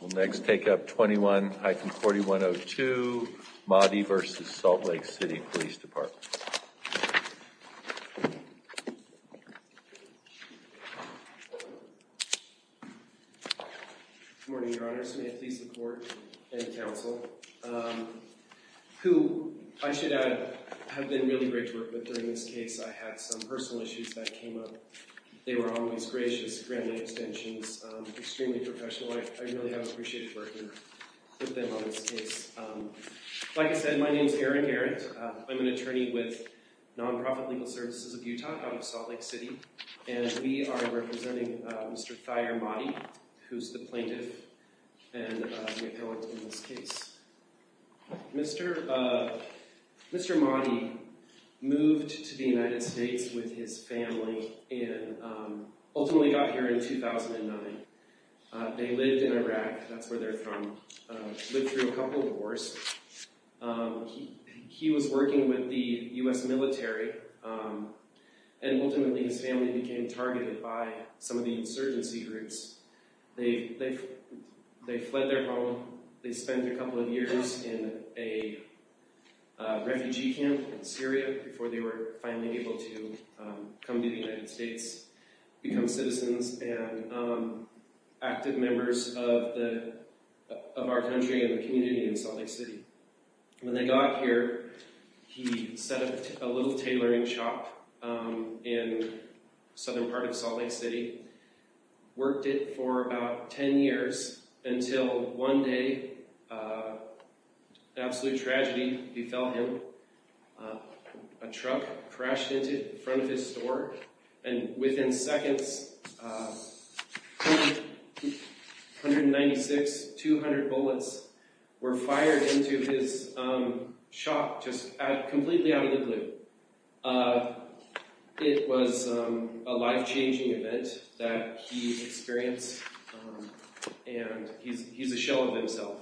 We'll next take up 21-4102, Mahdi v. Salt Lake City Police Department. Good morning, Your Honors. May it please the Court and the Council. Who, I should add, have been really great to work with during this case. I had some personal issues that came up. They were always gracious, granted extensions, extremely professional. I really have appreciated working with them on this case. Like I said, my name is Aaron Garrett. I'm an attorney with Nonprofit Legal Services of Utah out of Salt Lake City. And we are representing Mr. Thayer Mahdi, who's the plaintiff and the appellant in this case. Mr. Mahdi moved to the United States with his family and ultimately got here in 2009. They lived in Iraq, that's where they're from, lived through a couple of wars. He was working with the U.S. military, and ultimately his family became targeted by some of the insurgency groups. They fled their home. They spent a couple of years in a refugee camp in Syria before they were finally able to come to the United States, become citizens and active members of our country and the community in Salt Lake City. When they got here, he set up a little tailoring shop in the southern part of Salt Lake City. Worked it for about 10 years until one day, absolute tragedy befell him. A truck crashed into the front of his store, and within seconds, 196, 200 bullets were fired into his shop just completely out of the blue. It was a life-changing event that he experienced, and he's a shell of himself,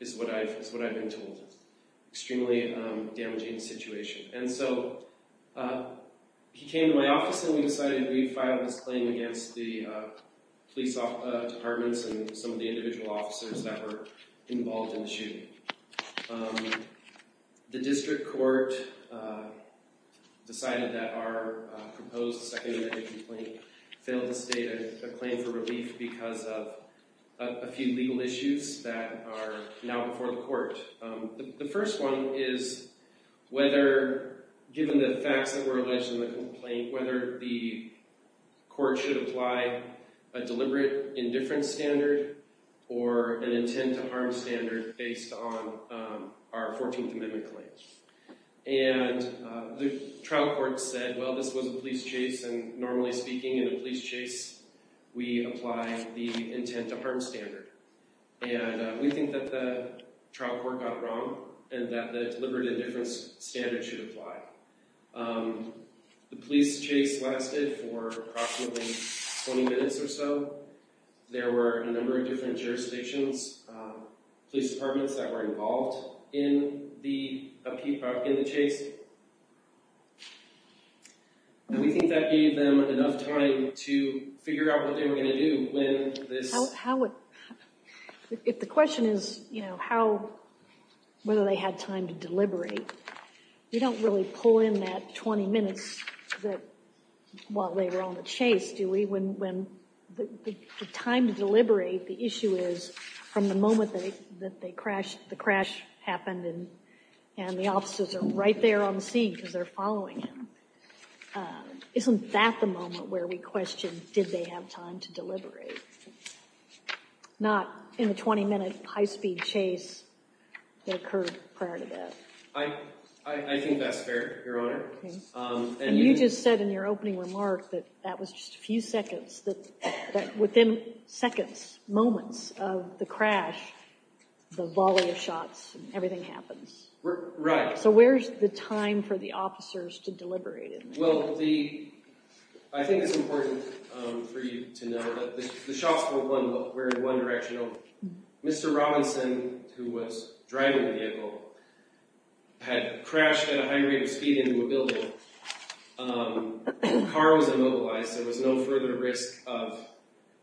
is what I've been told. Extremely damaging situation. And so he came to my office and we decided we'd file this claim against the police departments and some of the individual officers that were involved in the shooting. The district court decided that our proposed second amendment complaint failed to state a claim for relief because of a few legal issues that are now before the court. The first one is whether, given the facts that were alleged in the complaint, whether the court should apply a deliberate indifference standard or an intent to harm standard based on our 14th amendment claim. And the trial court said, well, this was a police chase, and normally speaking in a police chase, we apply the intent to harm standard. And we think that the trial court got it wrong and that the deliberate indifference standard should apply. The police chase lasted for approximately 20 minutes or so. There were a number of different jurisdictions, police departments that were involved in the chase. And we think that gave them enough time to figure out what they were going to do when this happened. If the question is whether they had time to deliberate, we don't really pull in that 20 minutes while they were on the chase, do we? When the time to deliberate, the issue is from the moment that the crash happened and the officers are right there on the scene because they're following him. Isn't that the moment where we question, did they have time to deliberate? Not in a 20-minute high-speed chase that occurred prior to that. I think that's fair, Your Honor. And you just said in your opening remark that that was just a few seconds, that within seconds, moments of the crash, the volley of shots and everything happens. Right. So where's the time for the officers to deliberate? Well, I think it's important for you to know that the shots were in one direction only. Mr. Robinson, who was driving the vehicle, had crashed at a high rate of speed into a building. The car was immobilized. There was no further risk of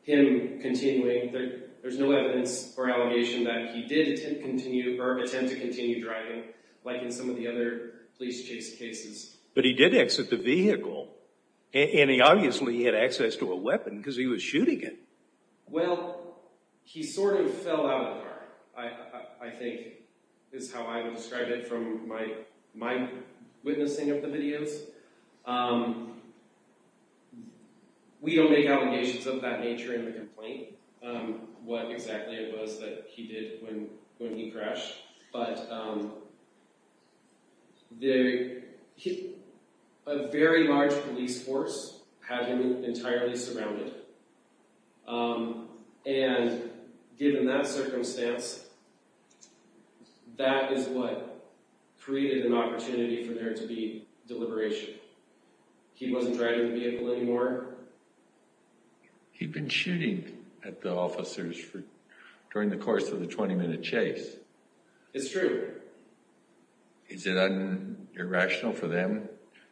him continuing. There's no evidence or allegation that he did attempt to continue driving like in some of the other police chase cases. But he did exit the vehicle, and he obviously had access to a weapon because he was shooting it. Well, he sort of fell out of the car, I think is how I would describe it from my witnessing of the videos. We don't make allegations of that nature in the complaint, what exactly it was that he did when he crashed. But a very large police force had him entirely surrounded. And given that circumstance, that is what created an opportunity for there to be deliberation. He wasn't driving the vehicle anymore. He'd been shooting at the officers during the course of the 20-minute chase. It's true. Is it irrational for them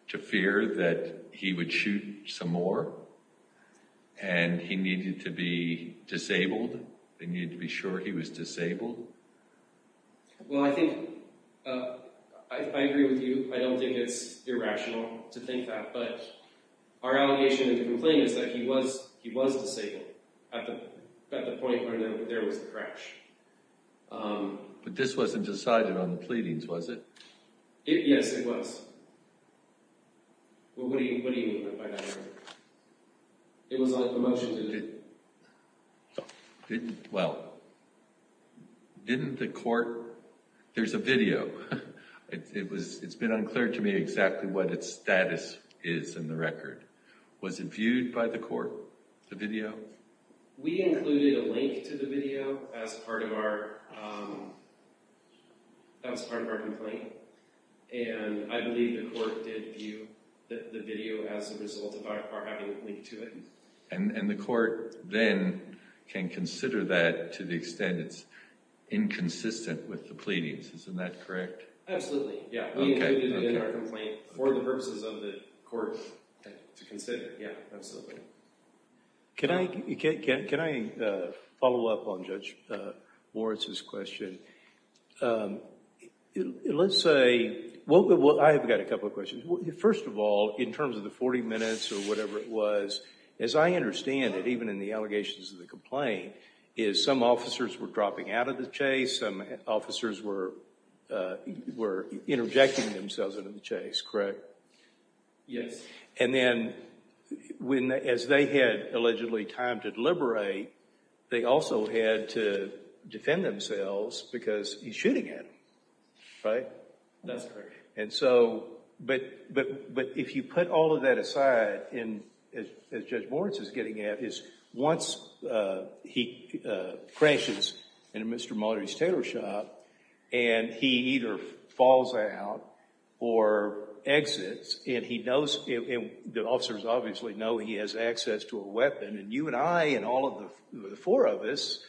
to fear that he would shoot some more, and he needed to be disabled? They needed to be sure he was disabled? Well, I think I agree with you. I don't think it's irrational to think that. But our allegation in the complaint is that he was disabled at the point where there was the crash. But this wasn't decided on the pleadings, was it? Yes, it was. What do you mean by that? It was on a motion to... Well, didn't the court... There's a video. It's been unclear to me exactly what its status is in the record. Was it viewed by the court, the video? We included a link to the video as part of our complaint. And I believe the court did view the video as a result of our having a link to it. And the court then can consider that to the extent it's inconsistent with the pleadings. Isn't that correct? Absolutely. We included it in our complaint for the purposes of the court to consider. Absolutely. Can I follow up on Judge Moritz's question? Let's say... I've got a couple of questions. First of all, in terms of the 40 minutes or whatever it was, as I understand it, even in the allegations of the complaint, is some officers were dropping out of the chase. Some officers were interjecting themselves into the chase, correct? Yes. And then as they had allegedly time to deliberate, they also had to defend themselves because he's shooting at them, right? That's correct. But if you put all of that aside, as Judge Moritz is getting at, is once he crashes into Mr. Mulroney's tailor shop and he either falls out or exits, and the officers obviously know he has access to a weapon, and you and I and all of the four of us,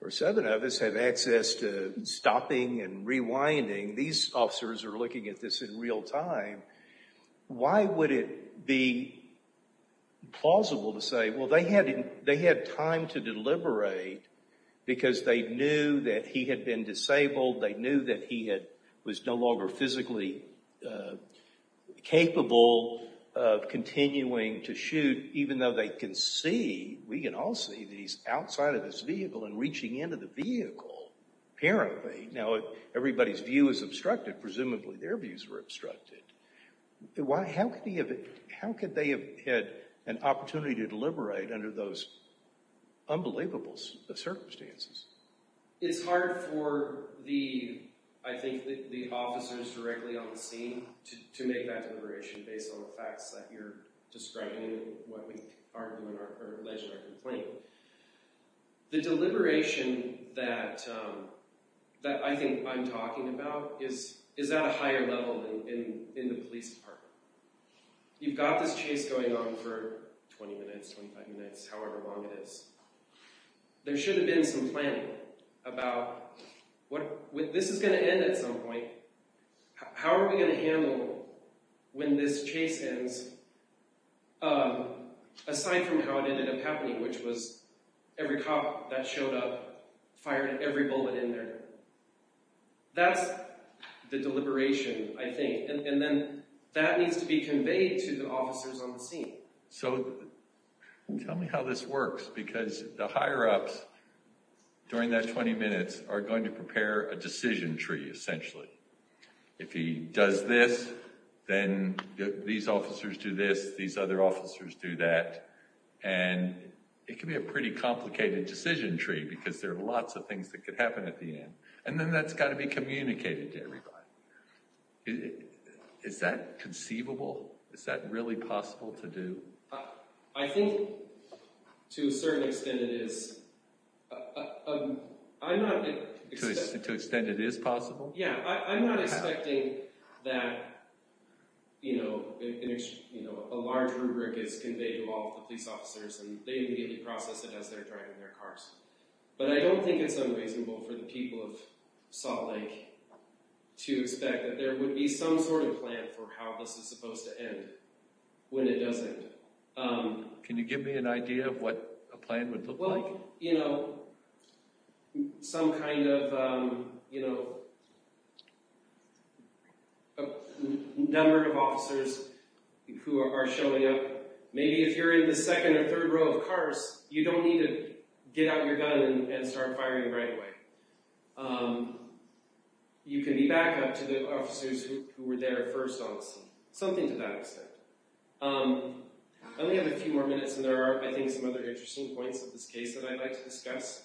or seven of us, have access to stopping and rewinding, these officers are looking at this in real time, why would it be plausible to say, well, they had time to deliberate because they knew that he had been disabled, they knew that he was no longer physically capable of continuing to shoot, even though they can see, we can all see, that he's outside of his vehicle and reaching into the vehicle, apparently. Now, everybody's view is obstructed. Presumably their views were obstructed. How could they have had an opportunity to deliberate under those unbelievable circumstances? It's hard for, I think, the officers directly on the scene to make that deliberation based on the facts that you're describing and what we argue in our complaint. The deliberation that I think I'm talking about is at a higher level in the police department. You've got this chase going on for 20 minutes, 25 minutes, however long it is. There should have been some planning about, this is going to end at some point, how are we going to handle when this chase ends, aside from how it ended up happening, which was every cop that showed up fired every bullet in there. That's the deliberation, I think, and then that needs to be conveyed to the officers on the scene. So, tell me how this works, because the higher-ups during that 20 minutes are going to prepare a decision tree, essentially. If he does this, then these officers do this, these other officers do that, and it can be a pretty complicated decision tree because there are lots of things that could happen at the end, and then that's got to be communicated to everybody. Is that conceivable? Is that really possible to do? I think, to a certain extent, it is. To an extent it is possible? Yeah, I'm not expecting that a large rubric is conveyed to all of the police officers, and they immediately process it as they're driving their cars. But I don't think it's unreasonable for the people of Salt Lake to expect that there would be some sort of plan for how this is supposed to end when it does end. Can you give me an idea of what a plan would look like? I think some kind of number of officers who are showing up, maybe if you're in the second or third row of cars, you don't need to get out your gun and start firing right away. You can be backup to the officers who were there first on the scene. Something to that extent. I only have a few more minutes, and there are, I think, some other interesting points of this case that I'd like to discuss.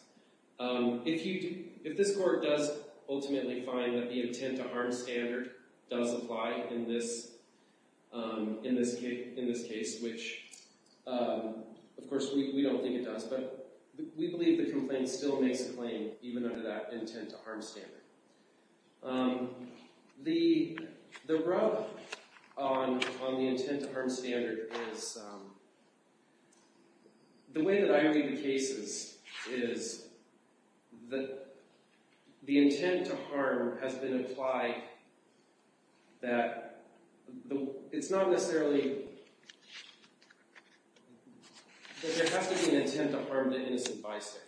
If this court does ultimately find that the intent to harm standard does apply in this case, which, of course, we don't think it does, but we believe the complaint still makes a claim even under that intent to harm standard. The rub on the intent to harm standard is... The way that I read the cases is that the intent to harm has been applied that... It's not necessarily... There has to be an intent to harm the innocent by state.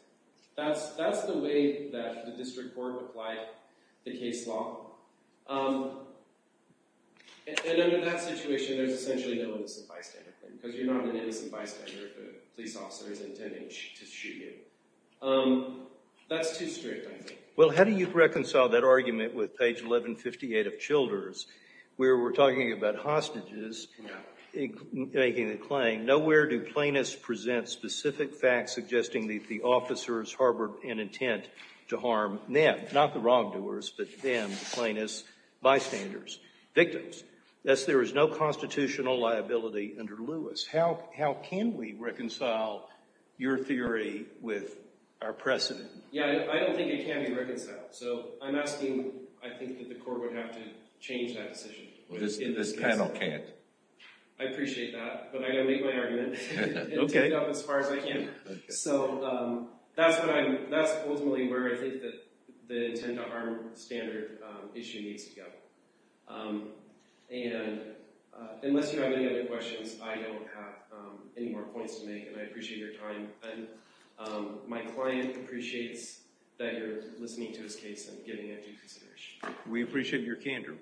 That's the way that the district court applied the case law. And under that situation, there's essentially no innocent bystander claim, because you're not an innocent bystander if a police officer is intending to shoot you. That's too strict, I think. Well, how do you reconcile that argument with page 1158 of Childers, where we're talking about hostages making the claim, and nowhere do plaintiffs present specific facts suggesting that the officers harbored an intent to harm them, not the wrongdoers, but them, the plaintiffs, bystanders, victims. Thus, there is no constitutional liability under Lewis. How can we reconcile your theory with our precedent? Yeah, I don't think it can be reconciled, so I'm asking... I think that the court would have to change that decision. This panel can't. I appreciate that, but I'm going to make my argument and take it up as far as I can. So that's ultimately where I think the intent to harm standard issue needs to go. Unless you have any other questions, I don't have any more points to make, and I appreciate your time. My client appreciates that you're listening to his case and giving it due consideration. We appreciate your candor.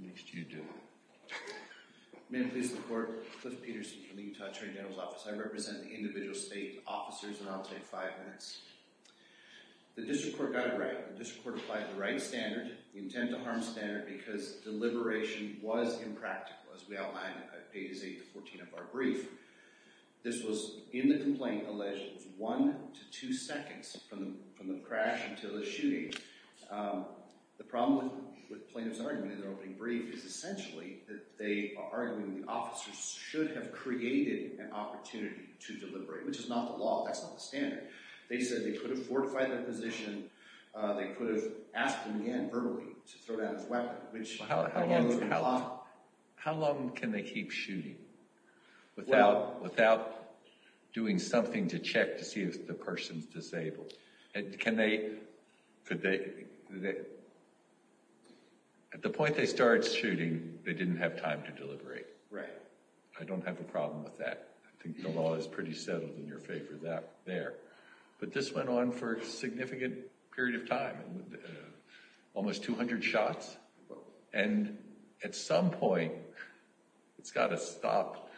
Next, you, Dylan. May I please report? Cliff Peterson from the Utah Attorney General's Office. I represent the individual state officers, and I'll take five minutes. The district court got it right. The district court applied the right standard, the intent to harm standard, because deliberation was impractical, as we outlined on pages 8 to 14 of our brief. This was, in the complaint, alleged that it was one to two seconds from the crash until the shooting. The problem with plaintiffs' argument in their opening brief is essentially that they are arguing the officers should have created an opportunity to deliberate, which is not the law. That's not the standard. They said they could have fortified their position. They could have asked him, again, verbally, to throw down his weapon, which— How long can they keep shooting without doing something to check to see if the person's disabled? At the point they started shooting, they didn't have time to deliberate. Right. I don't have a problem with that. I think the law is pretty settled in your favor there. But this went on for a significant period of time, almost 200 shots. And at some point, it's got to stop,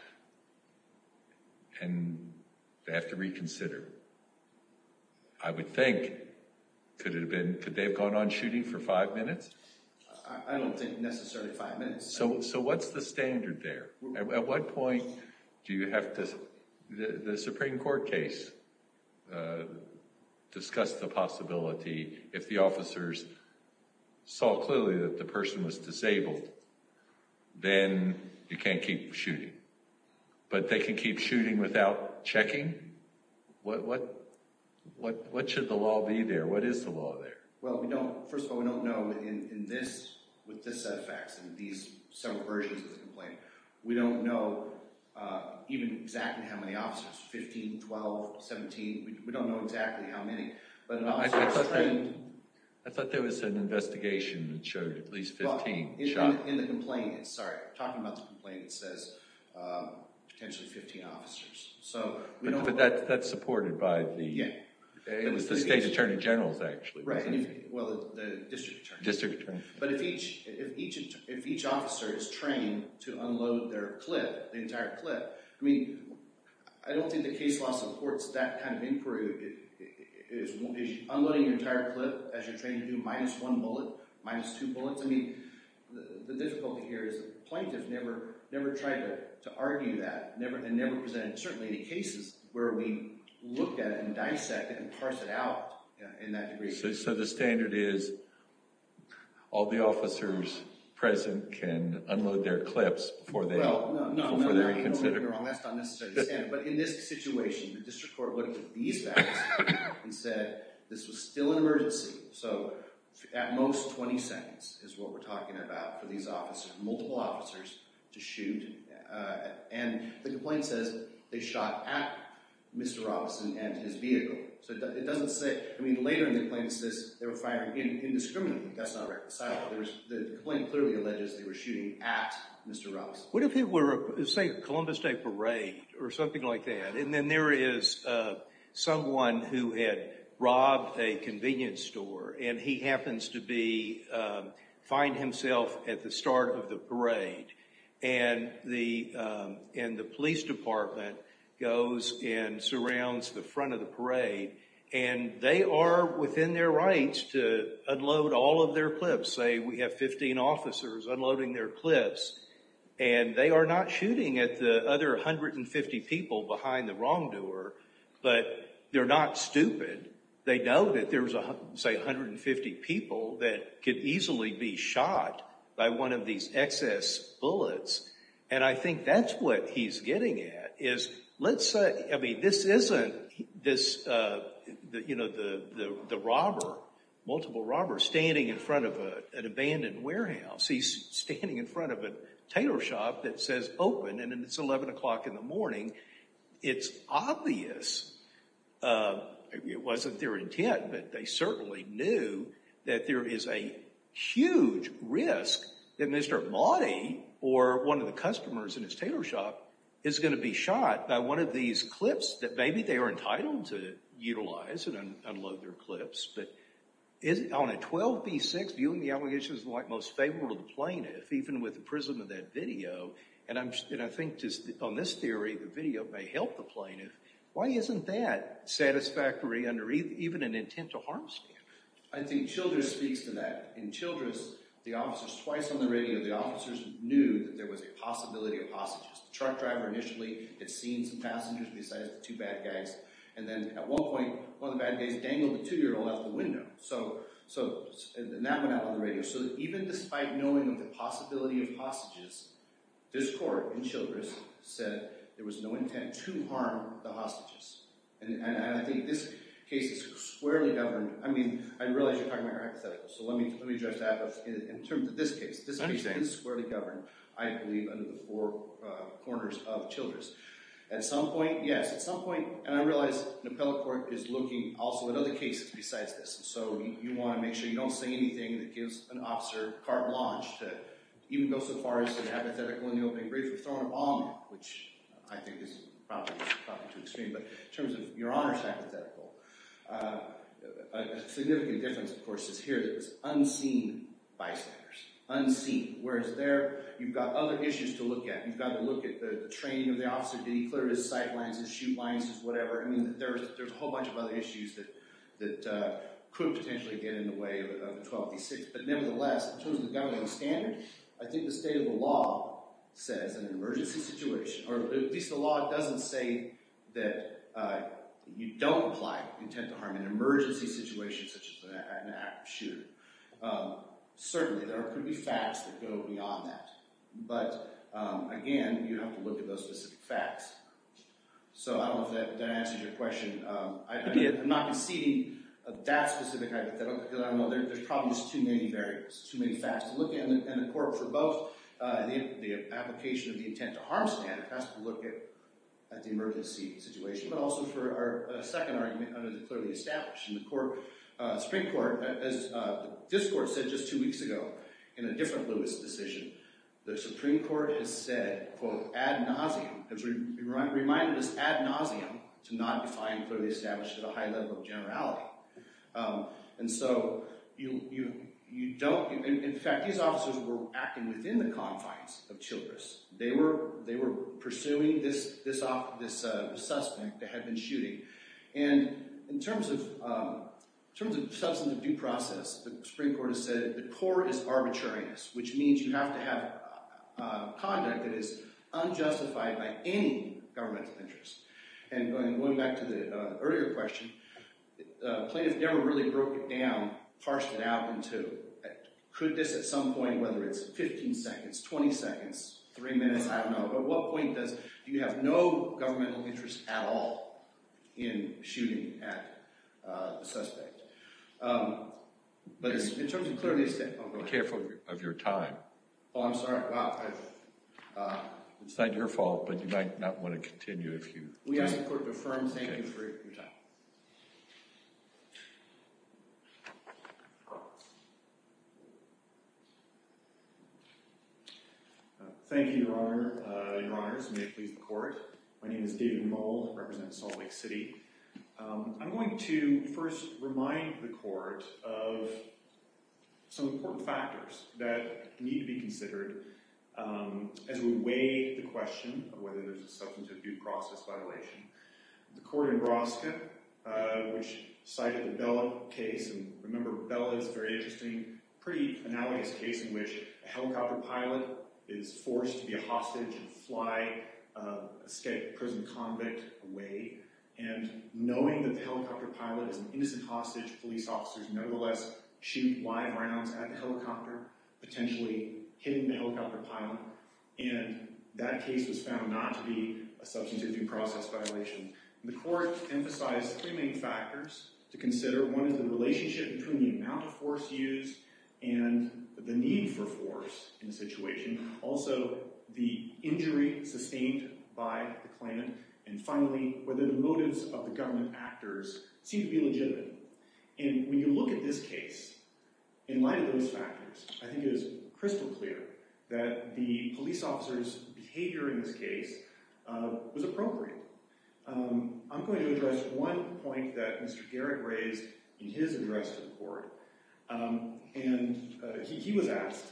and they have to reconsider. I would think—could they have gone on shooting for five minutes? I don't think necessarily five minutes. So what's the standard there? At what point do you have to— The Supreme Court case discussed the possibility, if the officers saw clearly that the person was disabled, then you can't keep shooting. But they can keep shooting without checking? What should the law be there? What is the law there? Well, first of all, we don't know, with this set of facts and these several versions of the complaint, we don't know even exactly how many officers—15, 12, 17—we don't know exactly how many. I thought there was an investigation that showed at least 15 shots. In the complaint, sorry, talking about the complaint, it says potentially 15 officers. But that's supported by the state attorney generals, actually. Right, well, the district attorneys. District attorneys. But if each officer is trained to unload their clip, the entire clip— I mean, I don't think the case law supports that kind of inquiry. Is unloading your entire clip, as you're trained to do, minus one bullet, minus two bullets? I mean, the difficulty here is the plaintiff never tried to argue that, and never presented it, certainly in cases where we looked at it and dissected it and parsed it out in that degree. So the standard is all the officers present can unload their clips before they reconsider? No, no, no, you're wrong. That's not necessarily the standard. But in this situation, the district court looked at these facts and said this was still an emergency. So at most 20 seconds is what we're talking about for these officers, multiple officers, to shoot. And the complaint says they shot at Mr. Robeson and his vehicle. So it doesn't say—I mean, later in the complaint it says they were firing indiscriminately. That's not recognizable. The complaint clearly alleges they were shooting at Mr. Robeson. What if it were, say, a Columbus Day parade or something like that, and then there is someone who had robbed a convenience store, and he happens to be—find himself at the start of the parade, and the police department goes and surrounds the front of the parade, and they are within their rights to unload all of their clips. And they are not shooting at the other 150 people behind the wrongdoer, but they're not stupid. They know that there's, say, 150 people that could easily be shot by one of these excess bullets. And I think that's what he's getting at, is let's say—I mean, this isn't this, you know, the robber, multiple robbers standing in front of an abandoned warehouse. He's standing in front of a tailor shop that says open, and then it's 11 o'clock in the morning. It's obvious it wasn't their intent, but they certainly knew that there is a huge risk that Mr. Amati or one of the customers in his tailor shop is going to be shot by one of these clips that maybe they are entitled to utilize and unload their clips. But on a 12B6, viewing the allegation is the most favorable to the plaintiff, even with the prism of that video. And I think on this theory, the video may help the plaintiff. Why isn't that satisfactory under even an intent to harm stand? I think Childress speaks to that. In Childress, the officers—twice on the radio, the officers knew that there was a possibility of hostages. The truck driver initially had seen some passengers besides the two bad guys. And then at one point, one of the bad guys, Daniel, the two-year-old, left the window. So that went out on the radio. So even despite knowing of the possibility of hostages, this court in Childress said there was no intent to harm the hostages. And I think this case is squarely governed. I mean, I realize you're talking about hypotheticals, so let me address that in terms of this case. This case is squarely governed, I believe, under the four corners of Childress. At some point, yes, at some point—and I realize an appellate court is looking also at other cases besides this. So you want to make sure you don't say anything that gives an officer carte blanche to even go so far as to be hypothetical in the opening brief. You're throwing a ball, which I think is probably too extreme. But in terms of your honor's hypothetical, a significant difference, of course, is here that it's unseen bystanders, unseen. Whereas there, you've got other issues to look at. You've got to look at the training of the officer. Did he clear his sight lines, his shoot lines, his whatever? I mean, there's a whole bunch of other issues that could potentially get in the way of 12b-6. But nevertheless, in terms of the governing standard, I think the state of the law says in an emergency situation— or at least the law doesn't say that you don't apply intent to harm in an emergency situation such as an active shooter. Certainly, there could be facts that go beyond that. But, again, you have to look at those specific facts. So I don't know if that answers your question. I'm not conceding that specific hypothetical because I don't know. There's probably just too many variables, too many facts to look at. And the court, for both the application of the intent to harm standard has to look at the emergency situation, but also for a second argument under the clearly established. And the Supreme Court, as this court said just two weeks ago in a different Lewis decision, the Supreme Court has said, quote, ad nauseum, has reminded us ad nauseum to not define clearly established at a high level of generality. And so you don't—in fact, these officers were acting within the confines of Childress. They were pursuing this suspect that had been shooting. And in terms of substantive due process, the Supreme Court has said the court is arbitrariness, which means you have to have conduct that is unjustified by any governmental interest. And going back to the earlier question, plaintiff never really broke it down, parsed it out in two. Could this at some point, whether it's 15 seconds, 20 seconds, three minutes, I don't know, but what point does— in shooting at the suspect? But in terms of clearly established— Be careful of your time. Oh, I'm sorry. It's not your fault, but you might not want to continue if you— We ask the court to affirm thank you for your time. Thank you, Your Honor, Your Honors, and may it please the court. My name is David Mould. I represent Salt Lake City. I'm going to first remind the court of some important factors that need to be considered as we weigh the question of whether there's a substantive due process violation. The court in Roska, which cited the Bella case— and remember, Bella is a very interesting, pretty analogous case in which a helicopter pilot is forced to be a hostage and fly a state prison convict away, and knowing that the helicopter pilot is an innocent hostage, police officers nevertheless shoot live rounds at the helicopter, potentially hitting the helicopter pilot, and that case was found not to be a substantive due process violation. The court emphasized three main factors to consider. One is the relationship between the amount of force used and the need for force in the situation. Also, the injury sustained by the Klan. And finally, whether the motives of the government actors seem to be legitimate. And when you look at this case, in light of those factors, I think it is crystal clear that the police officer's behavior in this case was appropriate. I'm going to address one point that Mr. Garrett raised in his address to the court. And he was asked,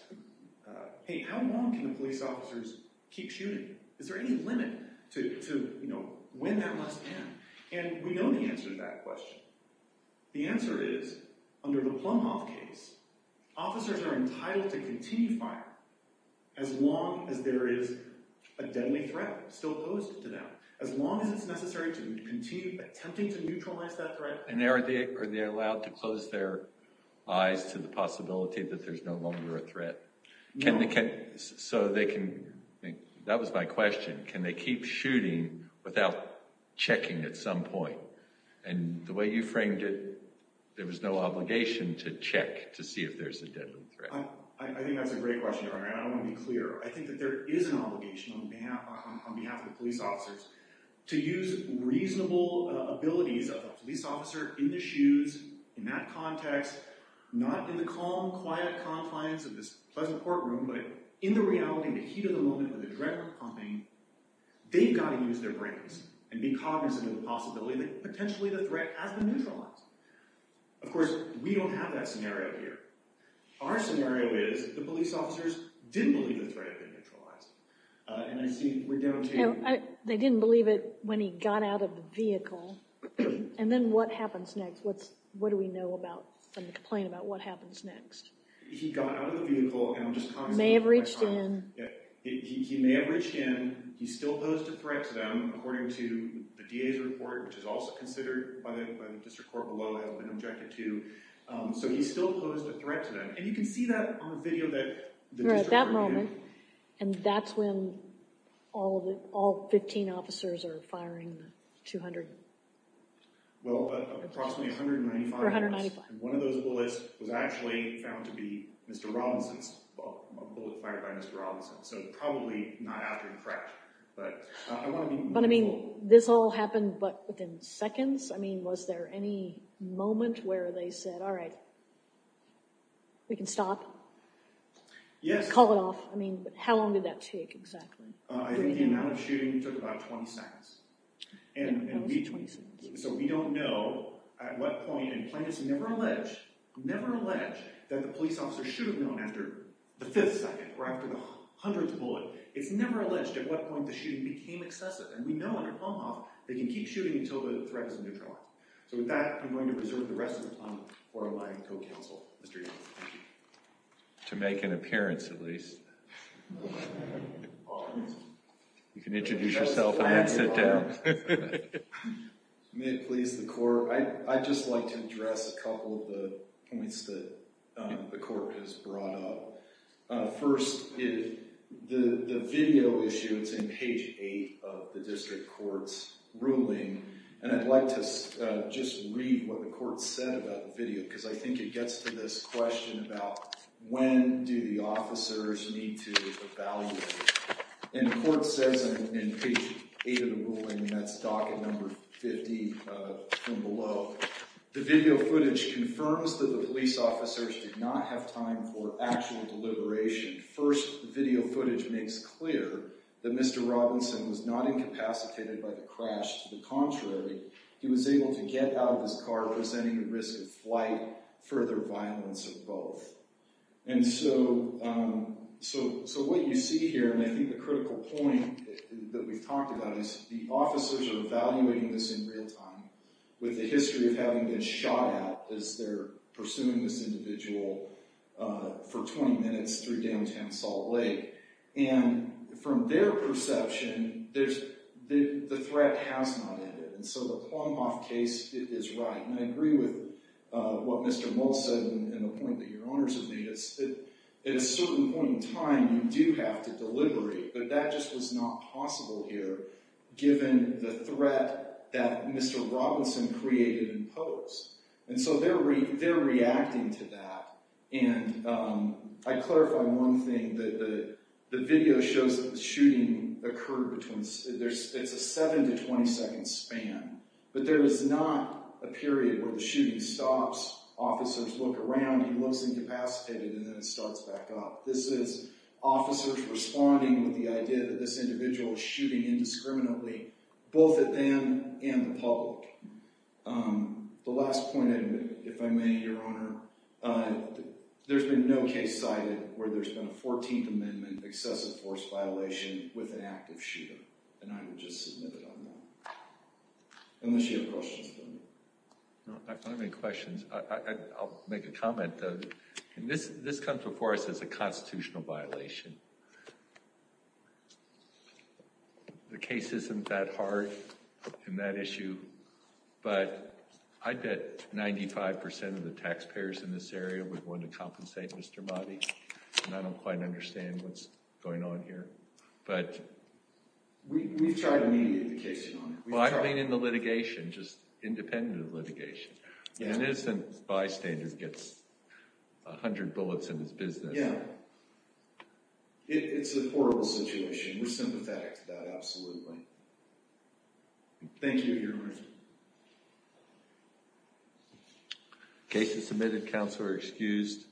hey, how long can the police officers keep shooting? Is there any limit to, you know, when that must end? And we know the answer to that question. The answer is, under the Plumhoff case, officers are entitled to continue fire as long as there is a deadly threat still posed to them, as long as it's necessary to continue attempting to neutralize that threat. And are they allowed to close their eyes to the possibility that there's no longer a threat? No. So they can, that was my question, can they keep shooting without checking at some point? And the way you framed it, there was no obligation to check to see if there's a deadly threat. I think that's a great question, Your Honor, and I want to be clear. I think that there is an obligation on behalf of the police officers to use reasonable abilities of a police officer in the shoes, in that context, not in the calm, quiet compliance of this pleasant courtroom, but in the reality, in the heat of the moment, with adrenaline pumping, they've got to use their brains and be cognizant of the possibility that potentially the threat has been neutralized. Of course, we don't have that scenario here. Our scenario is the police officers didn't believe the threat had been neutralized. And I see we're down to— They didn't believe it when he got out of the vehicle. And then what happens next? What do we know from the complaint about what happens next? He got out of the vehicle, and I'm just cognizant— May have reached in. He may have reached in. He still posed a threat to them, according to the DA's report, which is also considered by the district court below, has been objected to. So he still posed a threat to them. And you can see that on the video that the district court— Right, that moment. And that's when all 15 officers are firing the 200— Well, approximately 195 bullets. Or 195. And one of those bullets was actually found to be Mr. Robinson's, a bullet fired by Mr. Robinson. So probably not after he cracked. But I want to be— But, I mean, this all happened, but within seconds? I mean, was there any moment where they said, All right, we can stop. Yes. Call it off. I mean, how long did that take exactly? I think the amount of shooting took about 20 seconds. Yeah, it was 20 seconds. So we don't know at what point. And plaintiffs never allege that the police officer should have known after the fifth second or after the hundredth bullet. It's never alleged at what point the shooting became excessive. And we know on your palm off, they can keep shooting until the threat is neutralized. So with that, I'm going to reserve the rest of the time for my co-counsel, Mr. Egan. To make an appearance, at least. You can introduce yourself and then sit down. May it please the court, I'd just like to address a couple of the points that the court has brought up. First, the video issue, it's in page eight of the district court's ruling. And I'd like to just read what the court said about the video, because I think it gets to this question about when do the officers need to evaluate. And the court says in page eight of the ruling, and that's docket number 50 from below, the video footage confirms that the police officers did not have time for actual deliberation. First, the video footage makes clear that Mr. Robinson was not incapacitated by the crash. To the contrary, he was able to get out of his car, presenting the risk of flight, further violence, or both. And so what you see here, and I think the critical point that we've talked about is the officers are evaluating this in real time with the history of having been shot at as they're pursuing this individual for 20 minutes through downtown Salt Lake. And from their perception, the threat has not ended. And so the Plumhoff case is right. And I agree with what Mr. Moult said, and the point that your owners have made is that at a certain point in time, you do have to deliberate. But that just was not possible here, given the threat that Mr. Robinson created and posed. And so they're reacting to that. And I clarify one thing, the video shows that the shooting occurred between, it's a seven to 20 second span. But there is not a period where the shooting stops, officers look around, he looks incapacitated, and then it starts back up. This is officers responding with the idea that this individual is shooting indiscriminately, both at them and the public. The last point, if I may, Your Honor, there's been no case cited where there's been a 14th Amendment excessive force violation with an active shooter. And I would just submit it on that. Unless you have questions for me. I don't have any questions. I'll make a comment, though. This comes before us as a constitutional violation. The case isn't that hard in that issue. But I bet 95% of the taxpayers in this area would want to compensate Mr. Motti. And I don't quite understand what's going on here. But we've tried to mediate the case, Your Honor. Well, I mean in the litigation, just independent of litigation. An innocent bystander gets a hundred bullets in his business. Yeah. It's a horrible situation. We're sympathetic to that, absolutely. Thank you, Your Honor. Case is submitted. Counsel are excused.